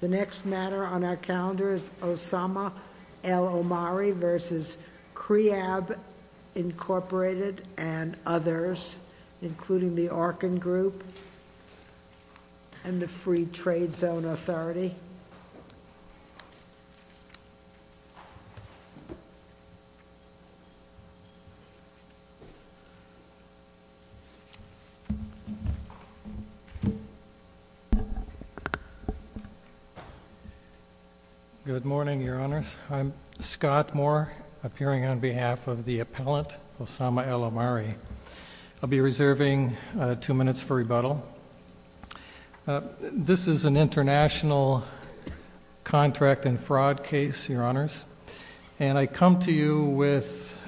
The next matter on our calendar is Osama El Omari v. Kreab Inc. and others, including the Arkin Group and the Free Trade Zone Authority. Good morning, Your Honors. I'm Scott Moore, appearing on behalf of the appellant, Osama El Omari. I'll be reserving two minutes for rebuttal. This is an international contract and fraud case, Your Honors, and I come to you with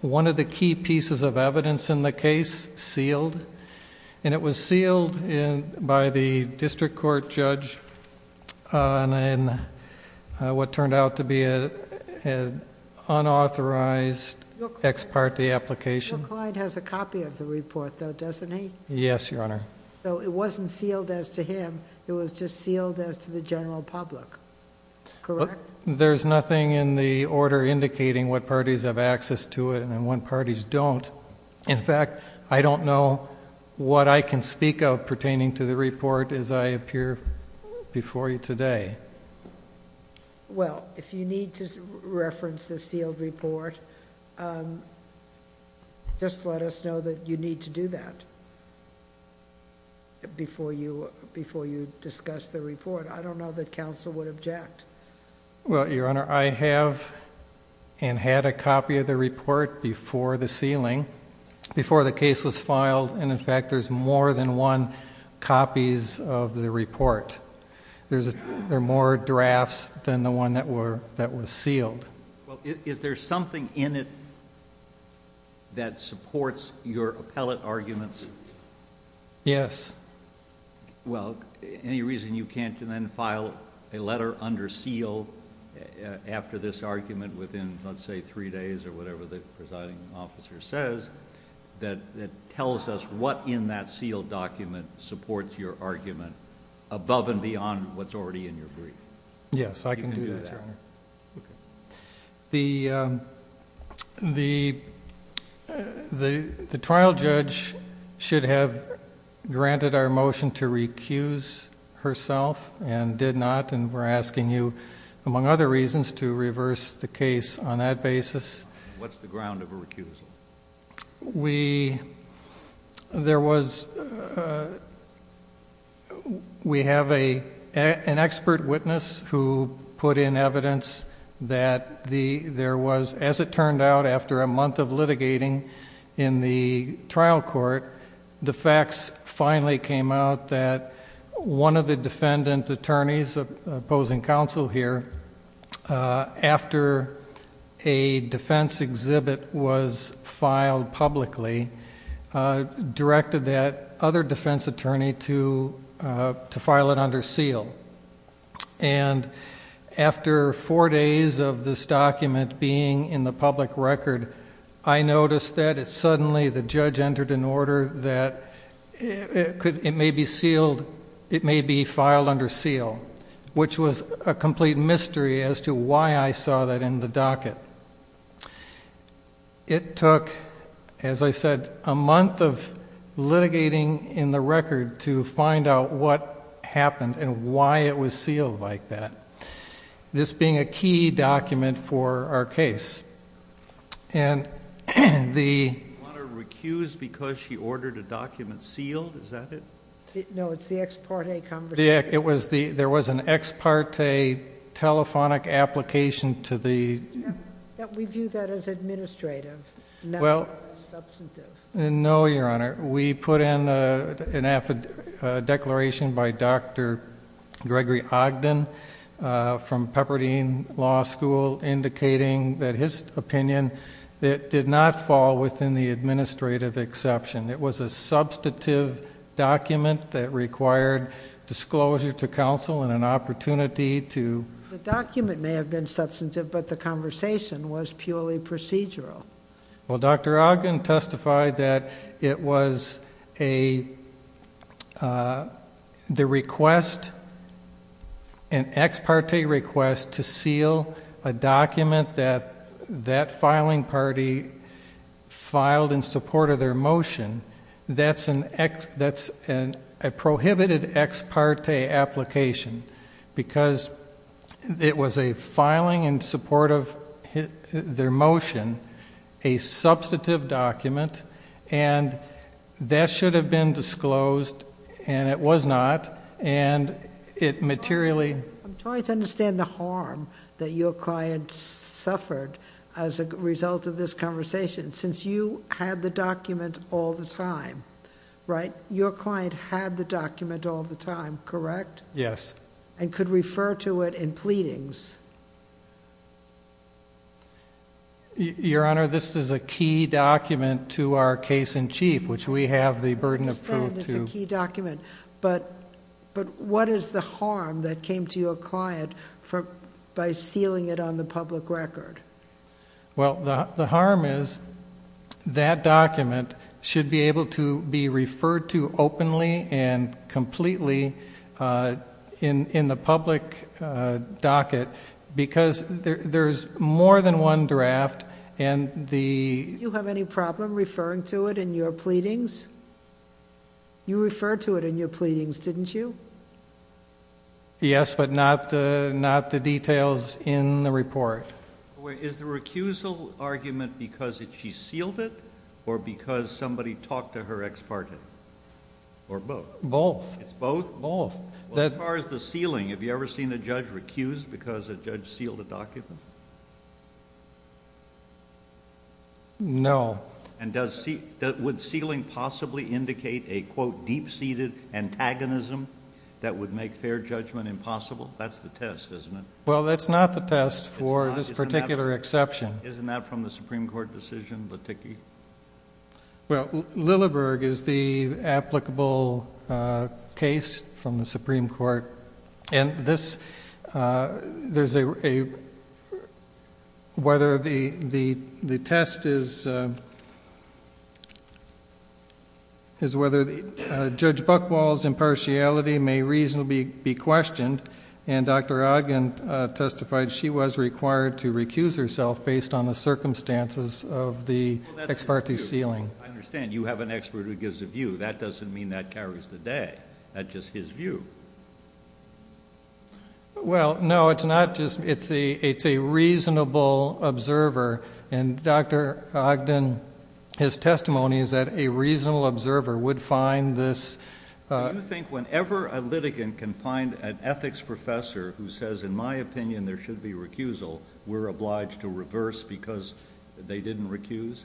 one of the key pieces of evidence in the case, sealed. And it was sealed by the district court judge in what turned out to be an unauthorized ex parte application. Your client has a copy of the report, though, doesn't he? Yes, Your Honor. So it wasn't sealed as to him, it was just sealed as to the general public, correct? There's nothing in the order indicating what parties have access to it and what parties don't. In fact, I don't know what I can speak of pertaining to the report as I appear before you today. Well, if you need to reference the sealed report, just let us know that you need to do that before you discuss the report. I don't know that counsel would object. Well, Your Honor, I have and had a copy of the report before the ceiling, before the case was filed, and in fact there's more than one copies of the report. There are more drafts than the one that was sealed. Is there something in it that supports your appellate arguments? Yes. Well, any reason you can't then file a letter under seal after this argument within, let's say, three days or whatever the presiding officer says that tells us what in that sealed document supports your argument above and beyond what's already in your brief? Yes, I can do that, Your Honor. Okay. The trial judge should have granted our motion to recuse herself and did not, and we're asking you, among other reasons, to reverse the case on that basis. What's the ground of a recusal? We have an expert witness who put in evidence that there was, as it turned out, after a month of litigating in the trial court, the facts finally came out that one of the defendant attorneys opposing counsel here, after a defense exhibit was filed publicly, directed that other defense attorney to file it under seal. And after four days of this document being in the public record, I noticed that suddenly the judge entered an order that it may be filed under seal, which was a complete mystery as to why I saw that in the docket. It took, as I said, a month of litigating in the record to find out what happened and why it was sealed like that, this being a key document for our case. And the... Your Honor, recused because she ordered a document sealed? Is that it? No, it's the ex parte conversation. There was an ex parte telephonic application to the... We view that as administrative, not substantive. No, Your Honor. We put in an affid... a declaration by Dr. Gregory Ogden from Pepperdine Law School indicating that his opinion did not fall within the administrative exception. It was a substantive document that required disclosure to counsel and an opportunity to... The document may have been substantive, but the conversation was purely procedural. Well, Dr. Ogden testified that it was a... the request, an ex parte request to seal a document that that filing party filed in support of their motion, that's an ex... that's a prohibited ex parte application because it was a filing in support of their motion, a substantive document, and that should have been disclosed, and it was not, and it materially... I'm trying to understand the harm that your client suffered as a result of this conversation since you had the document all the time, right? Your client had the document all the time, correct? Yes. And could refer to it in pleadings? Your Honor, this is a key document to our case in chief, which we have the burden of... I understand it's a key document, but what is the harm that came to your client by sealing it on the public record? Well, the harm is that document should be able to be referred to openly and completely in the public docket because there's more than one draft, and the... Did you have any problem referring to it in your pleadings? You referred to it in your pleadings, didn't you? Yes, but not the details in the report. Is the recusal argument because she sealed it or because somebody talked to her ex-parte? Or both? Both. It's both? Both. As far as the sealing, have you ever seen a judge recuse because a judge sealed a document? No. And would sealing possibly indicate a, quote, deep-seated antagonism that would make fair judgment impossible? That's the test, isn't it? Well, that's not the test for this particular exception. Isn't that from the Supreme Court decision, the TICI? Well, Lilleberg is the applicable case from the Supreme Court, and this... there's a... whether the test is whether Judge Buchwald's impartiality may reasonably be questioned, and Dr. Ogden testified she was required to recuse herself based on the circumstances of the ex-parte sealing. I understand. You have an expert who gives a view. That doesn't mean that carries the day. That's just his view. Well, no, it's not just... it's a reasonable observer, and Dr. Ogden, his testimony is that a reasonable observer would find this... Do you think whenever a litigant can find an ethics professor who says, in my opinion, there should be recusal, we're obliged to reverse because they didn't recuse?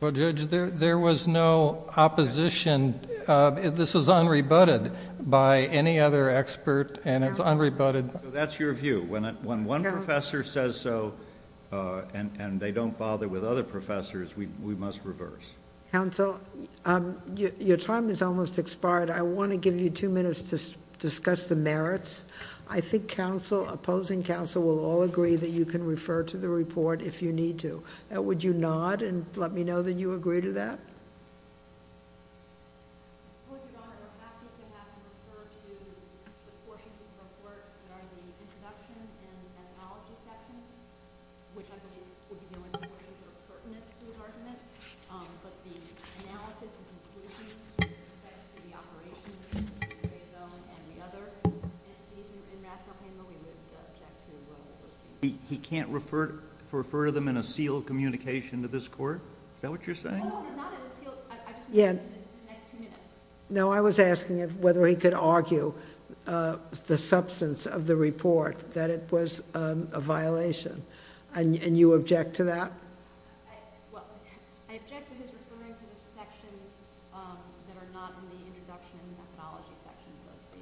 Well, Judge, there was no opposition. This was unrebutted by any other expert, and it's unrebutted... That's your view. When one professor says so and they don't bother with other professors, we must reverse. Counsel, your time has almost expired. I want to give you two minutes to discuss the merits. I think opposing counsel will all agree that you can refer to the report if you need to. Would you nod and let me know that you agree to that? He can't refer to them in a sealed communication to this court? Is that what you're saying? No, I was asking him whether he could argue the substance of the report, that it was a violation. And you object to that?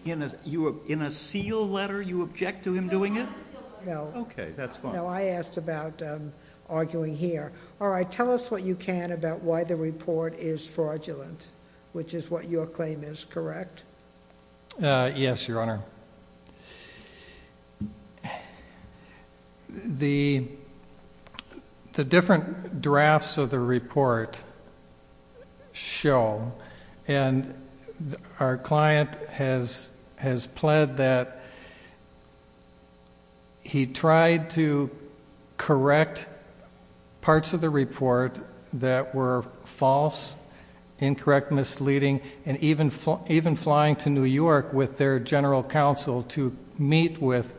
In a sealed letter, you object to him doing it? No, I asked about arguing here. All right, tell us what you can about why the report is fraudulent, which is what your claim is, correct? Yes, Your Honor. The different drafts of the report show, and our client has pled that he tried to correct parts of the report that were false, incorrect, misleading, and even flying to New York with their general counsel to meet with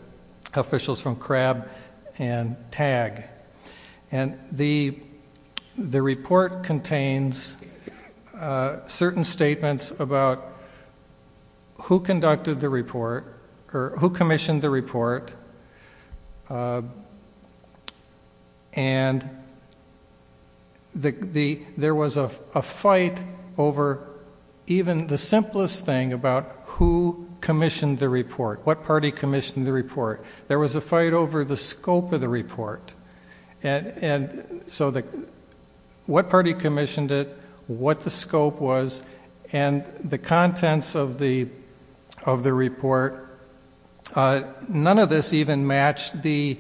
officials from CRAB and TAG. And the report contains certain statements about who conducted the report, or who commissioned the report, and there was a fight over even the simplest thing about who commissioned the report, what party commissioned the report. There was a fight over the scope of the report. And so what party commissioned it, what the scope was, and the contents of the report, none of this even matched the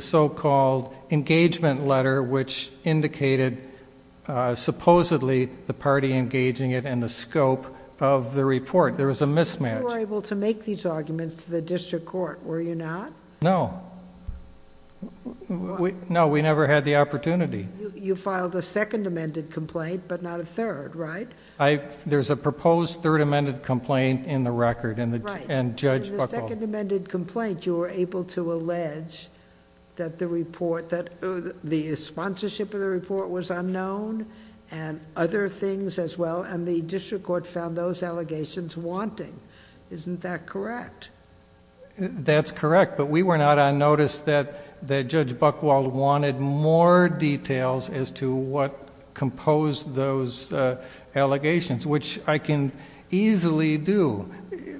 so-called engagement letter, which indicated supposedly the party engaging it and the scope of the report. There was a mismatch. You were able to make these arguments to the district court, were you not? No. No, we never had the opportunity. You filed a second amended complaint, but not a third, right? There's a proposed third amended complaint in the record, and Judge Buchholz... In the second amended complaint, you were able to allege that the sponsorship of the report was unknown and other things as well, and the district court found those allegations wanting. Isn't that correct? That's correct, but we were not on notice that Judge Buchholz wanted more details as to what composed those allegations, which I can easily do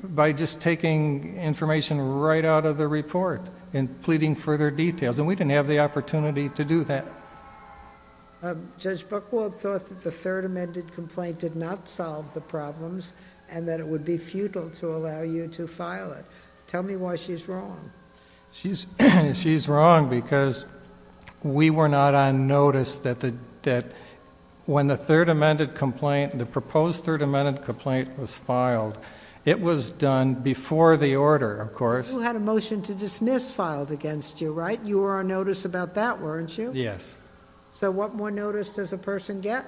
by just taking information right out of the report and pleading for their details. And we didn't have the opportunity to do that. Judge Buchholz thought that the third amended complaint did not solve the problems and that it would be futile to allow you to file it. Tell me why she's wrong. She's wrong because we were not on notice that when the third amended complaint, the proposed third amended complaint was filed, it was done before the order, of course. You had a motion to dismiss filed against you, right? You were on notice about that, weren't you? Yes. So what more notice does a person get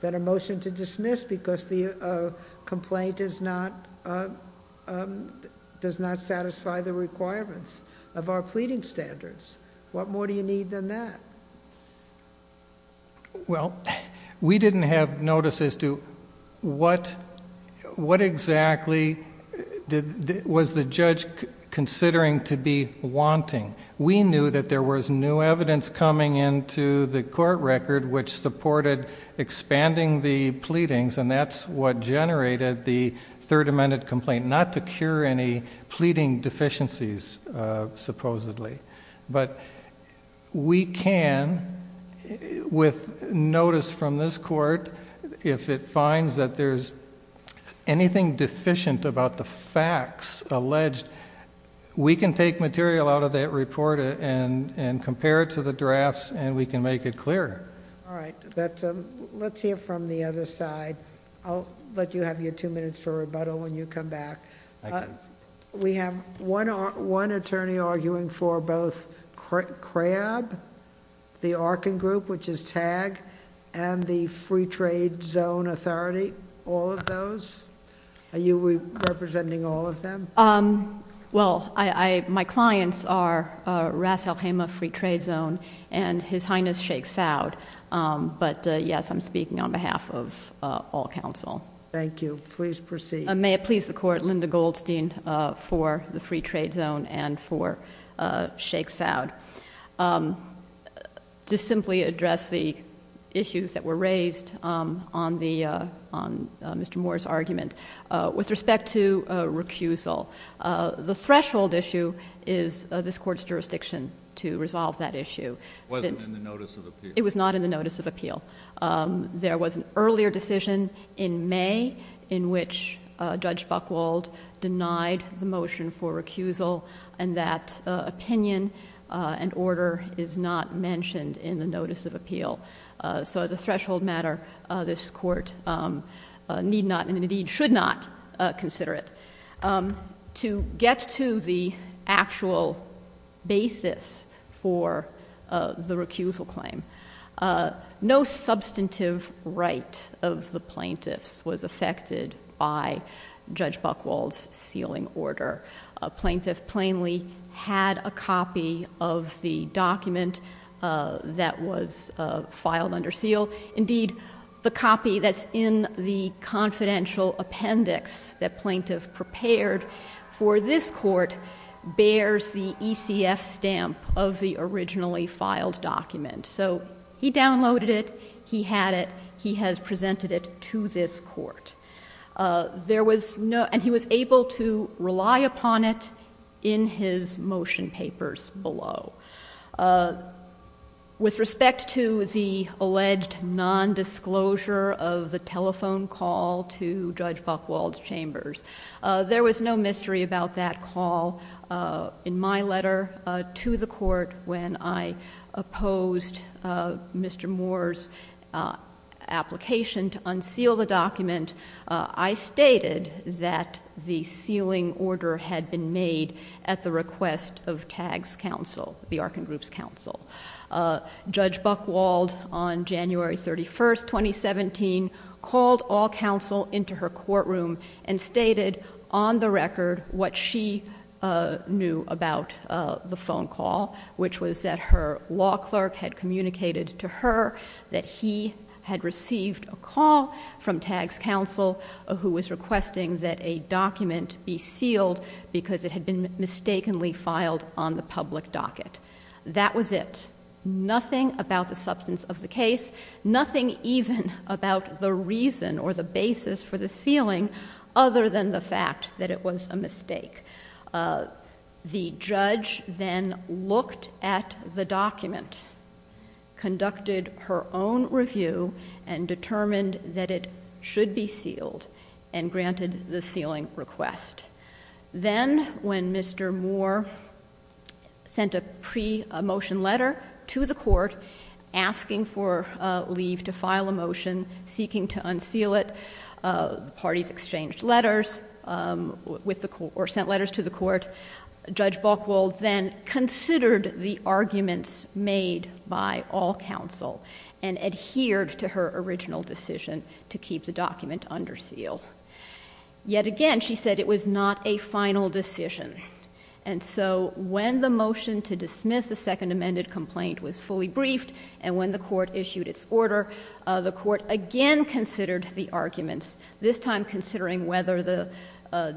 than a motion to dismiss because the complaint does not satisfy the requirements of our pleading standards? What more do you need than that? Well, we didn't have notice as to what exactly was the judge considering to be wanting. We knew that there was new evidence coming into the court record which supported expanding the pleadings, and that's what generated the third amended complaint, not to cure any pleading deficiencies, supposedly. But we can, with notice from this court, if it finds that there's anything deficient about the facts alleged, we can take material out of that report and compare it to the drafts and we can make it clearer. All right. Let's hear from the other side. I'll let you have your two minutes for rebuttal when you come back. Thank you. We have one attorney arguing for both CRAB, the Arkin Group, which is TAG, and the Free Trade Zone Authority, all of those. Are you representing all of them? Well, my clients are Ras Al Khaimah Free Trade Zone and His Highness Sheikh Saud. But, yes, I'm speaking on behalf of all counsel. Thank you. Please proceed. May it please the Court, Linda Goldstein for the Free Trade Zone and for Sheikh Saud. To simply address the issues that were raised on Mr. Moore's argument, with respect to recusal, the threshold issue is this court's jurisdiction to resolve that issue. It wasn't in the notice of appeal. It was not in the notice of appeal. There was an earlier decision in May in which Judge Buchwald denied the motion for recusal and that opinion and order is not mentioned in the notice of appeal. So as a threshold matter, this court need not and indeed should not consider it. To get to the actual basis for the recusal claim, no substantive right of the plaintiffs was affected by Judge Buchwald's sealing order. A plaintiff plainly had a copy of the document that was filed under seal. Indeed, the copy that's in the confidential appendix that plaintiff prepared for this court bears the ECF stamp of the originally filed document. So he downloaded it. He had it. He has presented it to this court. And he was able to rely upon it in his motion papers below. With respect to the alleged nondisclosure of the telephone call to Judge Buchwald's chambers, there was no mystery about that call. In my letter to the court when I opposed Mr. Moore's application to unseal the document, I stated that the sealing order had been made at the request of TAG's counsel, the Arkin Group's counsel. Judge Buchwald on January 31, 2017, called all counsel into her courtroom and stated on the record what she knew about the phone call, which was that her law clerk had communicated to her that he had received a call from TAG's counsel who was requesting that a document be sealed because it had been mistakenly filed on the public docket. That was it. Nothing about the substance of the case, nothing even about the reason or the basis for the sealing, other than the fact that it was a mistake. The judge then looked at the document, conducted her own review, and determined that it should be sealed and granted the sealing request. Then when Mr. Moore sent a pre-motion letter to the court asking for leave to file a motion seeking to unseal it, the parties exchanged letters or sent letters to the court. Judge Buchwald then considered the arguments made by all counsel and adhered to her original decision to keep the document under seal. Yet again, she said it was not a final decision. And so when the motion to dismiss the Second Amended Complaint was fully briefed and when the court issued its order, the court again considered the arguments, this time considering whether the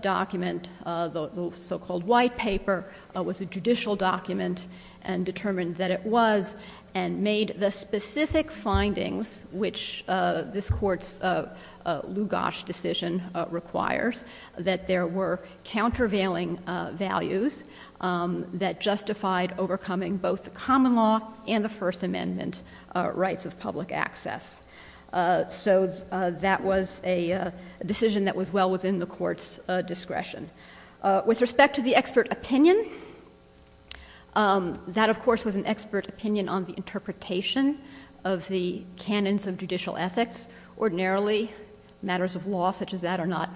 document, the so-called white paper, was a judicial document and determined that it was, and made the specific findings, which this Court's Lugosz decision requires, that there were countervailing values that justified overcoming both the common law and the First Amendment rights of public access. So that was a decision that was well within the Court's discretion. With respect to the expert opinion, that of course was an expert opinion on the interpretation of the canons of judicial ethics. Ordinarily, matters of law such as that are not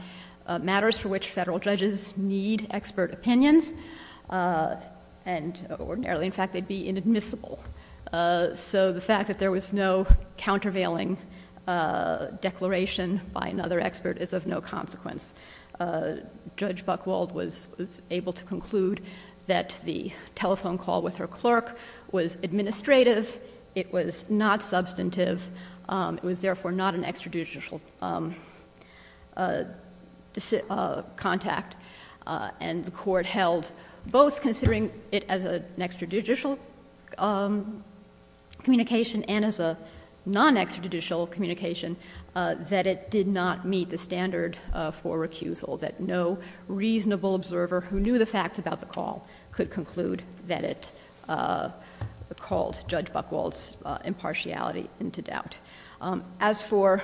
matters for which federal judges need expert opinions. And ordinarily, in fact, they'd be inadmissible. So the fact that there was no countervailing declaration by another expert is of no consequence. Judge Buchwald was able to conclude that the telephone call with her clerk was administrative, it was not substantive, it was therefore not an extrajudicial contact, and the Court held, both considering it as an extrajudicial communication and as a non-extrajudicial communication, that it did not meet the standard for recusal, that no reasonable observer who knew the facts about the call could conclude that it called Judge Buchwald's impartiality into doubt. As for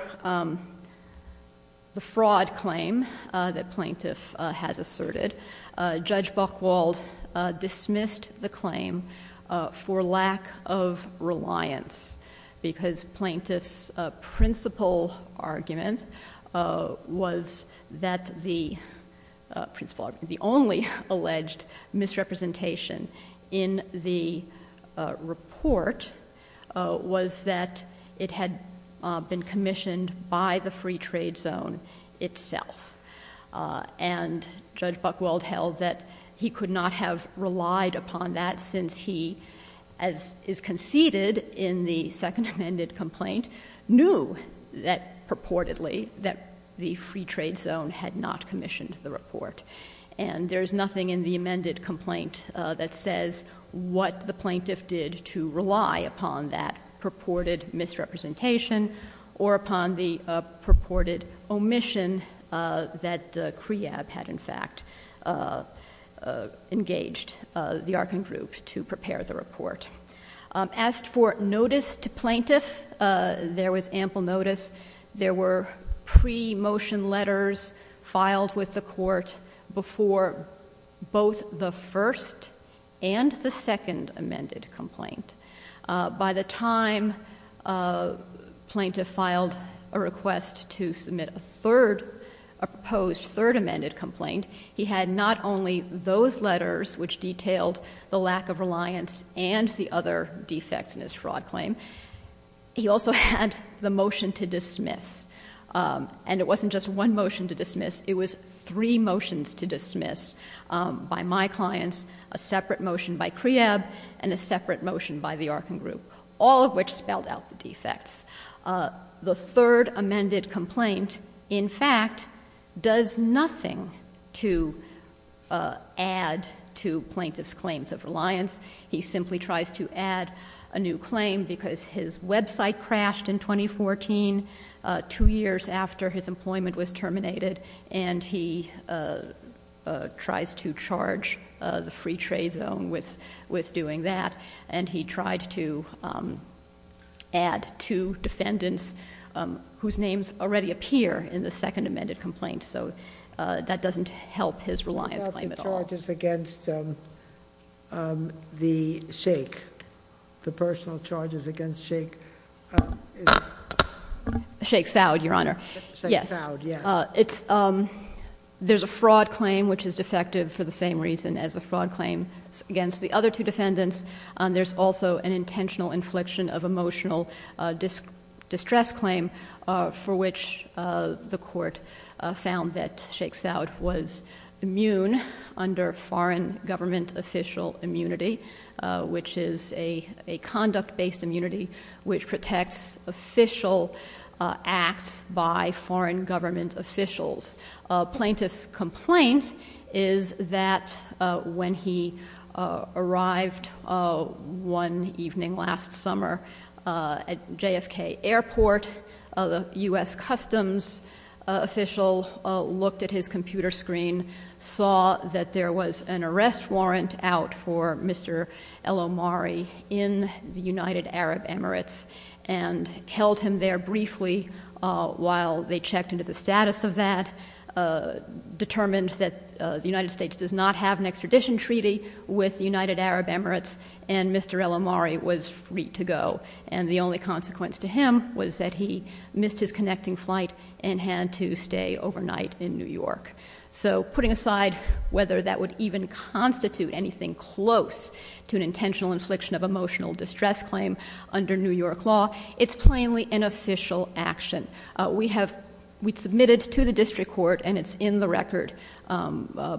the fraud claim that plaintiff has asserted, Judge Buchwald dismissed the claim for lack of reliance, because plaintiff's principal argument was that the only alleged misrepresentation in the report was that it had been commissioned by the free trade zone itself. And Judge Buchwald held that he could not have relied upon that since he, as is conceded in the second amended complaint, knew purportedly that the free trade zone had not commissioned the report. And there's nothing in the amended complaint that says what the plaintiff did to rely upon that purported misrepresentation or upon the purported omission that CREAB had, in fact, engaged the Arkin Group to prepare the report. As for notice to plaintiff, there was ample notice. There were pre-motion letters filed with the Court before both the first and the second amended complaint. By the time plaintiff filed a request to submit a third, a proposed third amended complaint, he had not only those letters which detailed the lack of reliance and the other defects in his fraud claim, he also had the motion to dismiss. And it wasn't just one motion to dismiss. It was three motions to dismiss by my clients, a separate motion by CREAB, and a separate motion by the Arkin Group, all of which spelled out the defects. The third amended complaint, in fact, does nothing to add to plaintiff's claims of reliance. He simply tries to add a new claim because his website crashed in 2014, two years after his employment was terminated, and he tries to charge the free trade zone with doing that. And he tried to add two defendants whose names already appear in the second amended complaint. So that doesn't help his reliance claim at all. The personal charges against the Shake, the personal charges against Shake. Shake Soud, Your Honor. Shake Soud, yes. There's a fraud claim which is defective for the same reason as a fraud claim against the other two defendants. There's also an intentional infliction of emotional distress claim for which the court found that Shake Soud was immune under foreign government official immunity, which is a conduct-based immunity which protects official acts by foreign government officials. Plaintiff's complaint is that when he arrived one evening last summer at JFK Airport, a U.S. Customs official looked at his computer screen, saw that there was an arrest warrant out for Mr. El-Omari in the United Arab Emirates, and held him there briefly while they checked into the status of that, determined that the United States does not have an extradition treaty with the United Arab Emirates, and Mr. El-Omari was free to go. And the only consequence to him was that he missed his connecting flight and had to stay overnight in New York. So putting aside whether that would even constitute anything close to an intentional infliction of emotional distress claim under New York law, it's plainly an official action. We submitted to the district court, and it's in the record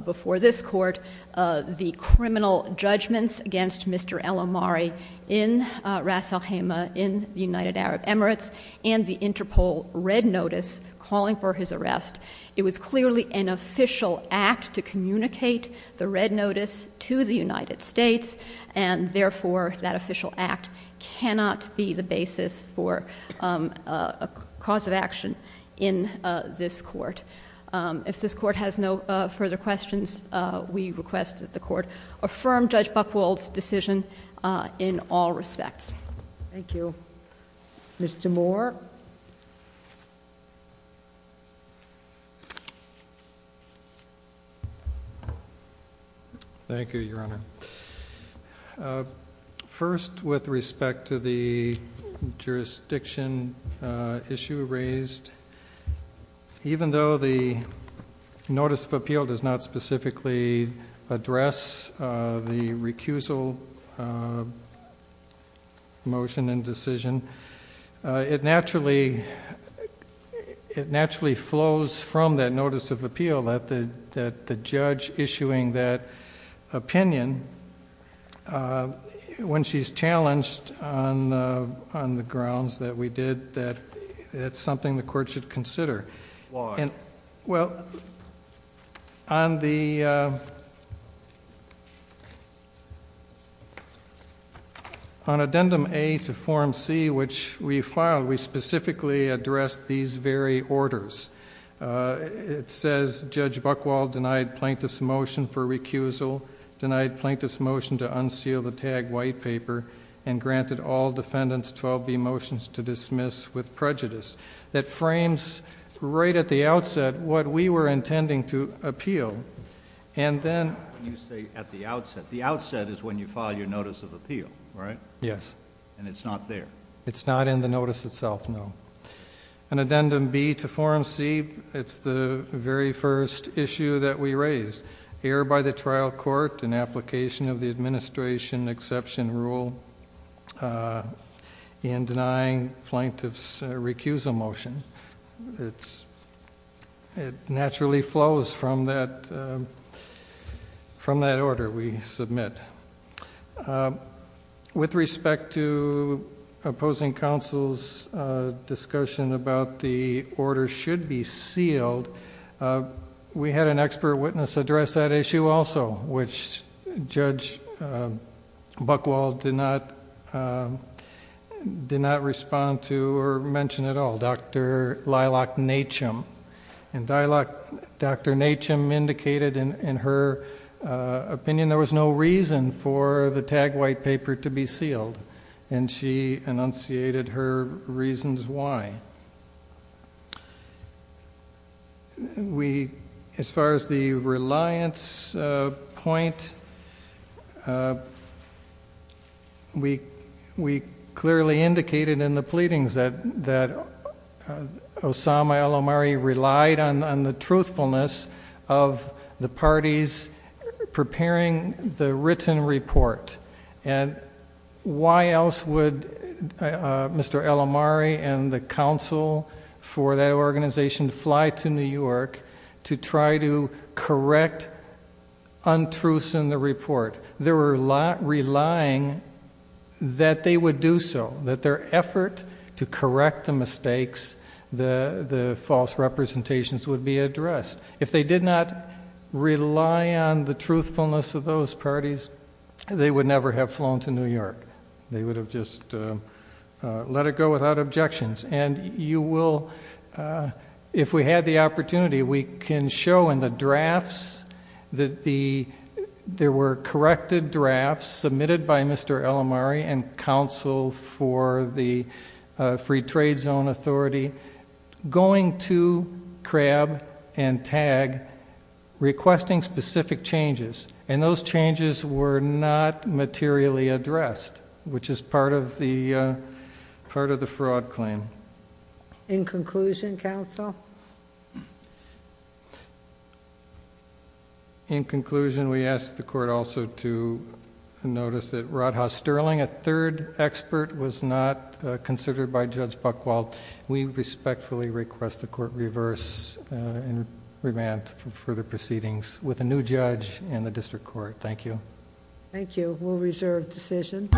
before this court, the criminal judgments against Mr. El-Omari in Ras al-Khaimah in the United Arab Emirates and the Interpol red notice calling for his arrest. It was clearly an official act to communicate the red notice to the United States, and therefore that official act cannot be the basis for a cause of action in this court. If this court has no further questions, we request that the court affirm Judge Buchwald's decision in all respects. Thank you. Mr. Moore. Thank you, Your Honor. First, with respect to the jurisdiction issue raised, even though the notice of appeal does not specifically address the recusal motion and decision, it naturally flows from that notice of appeal that the judge issuing that opinion, when she's challenged on the grounds that we did, that it's something the court should consider. Why? Well, on addendum A to form C, which we filed, we specifically addressed these very orders. It says, Judge Buchwald denied plaintiff's motion for recusal, denied plaintiff's motion to unseal the tagged white paper, and granted all defendants 12B motions to dismiss with prejudice. That frames right at the outset what we were intending to appeal. And then- You say at the outset. The outset is when you file your notice of appeal, right? Yes. And it's not there. It's not in the notice itself, no. On addendum B to form C, it's the very first issue that we raised. It says, err by the trial court in application of the administration exception rule in denying plaintiff's recusal motion. It naturally flows from that order we submit. With respect to opposing counsel's discussion about the order should be sealed, we had an expert witness address that issue also, which Judge Buchwald did not respond to or mention at all, Dr. Lilac Natchum. And Dr. Natchum indicated in her opinion there was no reason for the tagged white paper to be sealed, and she enunciated her reasons why. As far as the reliance point, we clearly indicated in the pleadings that Osama al-Omari relied on the truthfulness of the parties preparing the written report. And why else would Mr. al-Omari and the counsel for that organization fly to New York to try to correct untruths in the report? They were relying that they would do so, that their effort to correct the mistakes, the false representations, would be addressed. If they did not rely on the truthfulness of those parties, they would never have flown to New York. They would have just let it go without objections. If we had the opportunity, we can show in the drafts that there were corrected drafts submitted by Mr. al-Omari and counsel for the Free Trade Zone Authority going to CRAB and TAG requesting specific changes. And those changes were not materially addressed, which is part of the fraud claim. In conclusion, counsel? In conclusion, we ask the court also to notice that Rodhaus Sterling, a third expert, was not considered by Judge Buchwald. We respectfully request the court reverse and revamp further proceedings with a new judge in the district court. Thank you. Thank you. We'll reserve decision.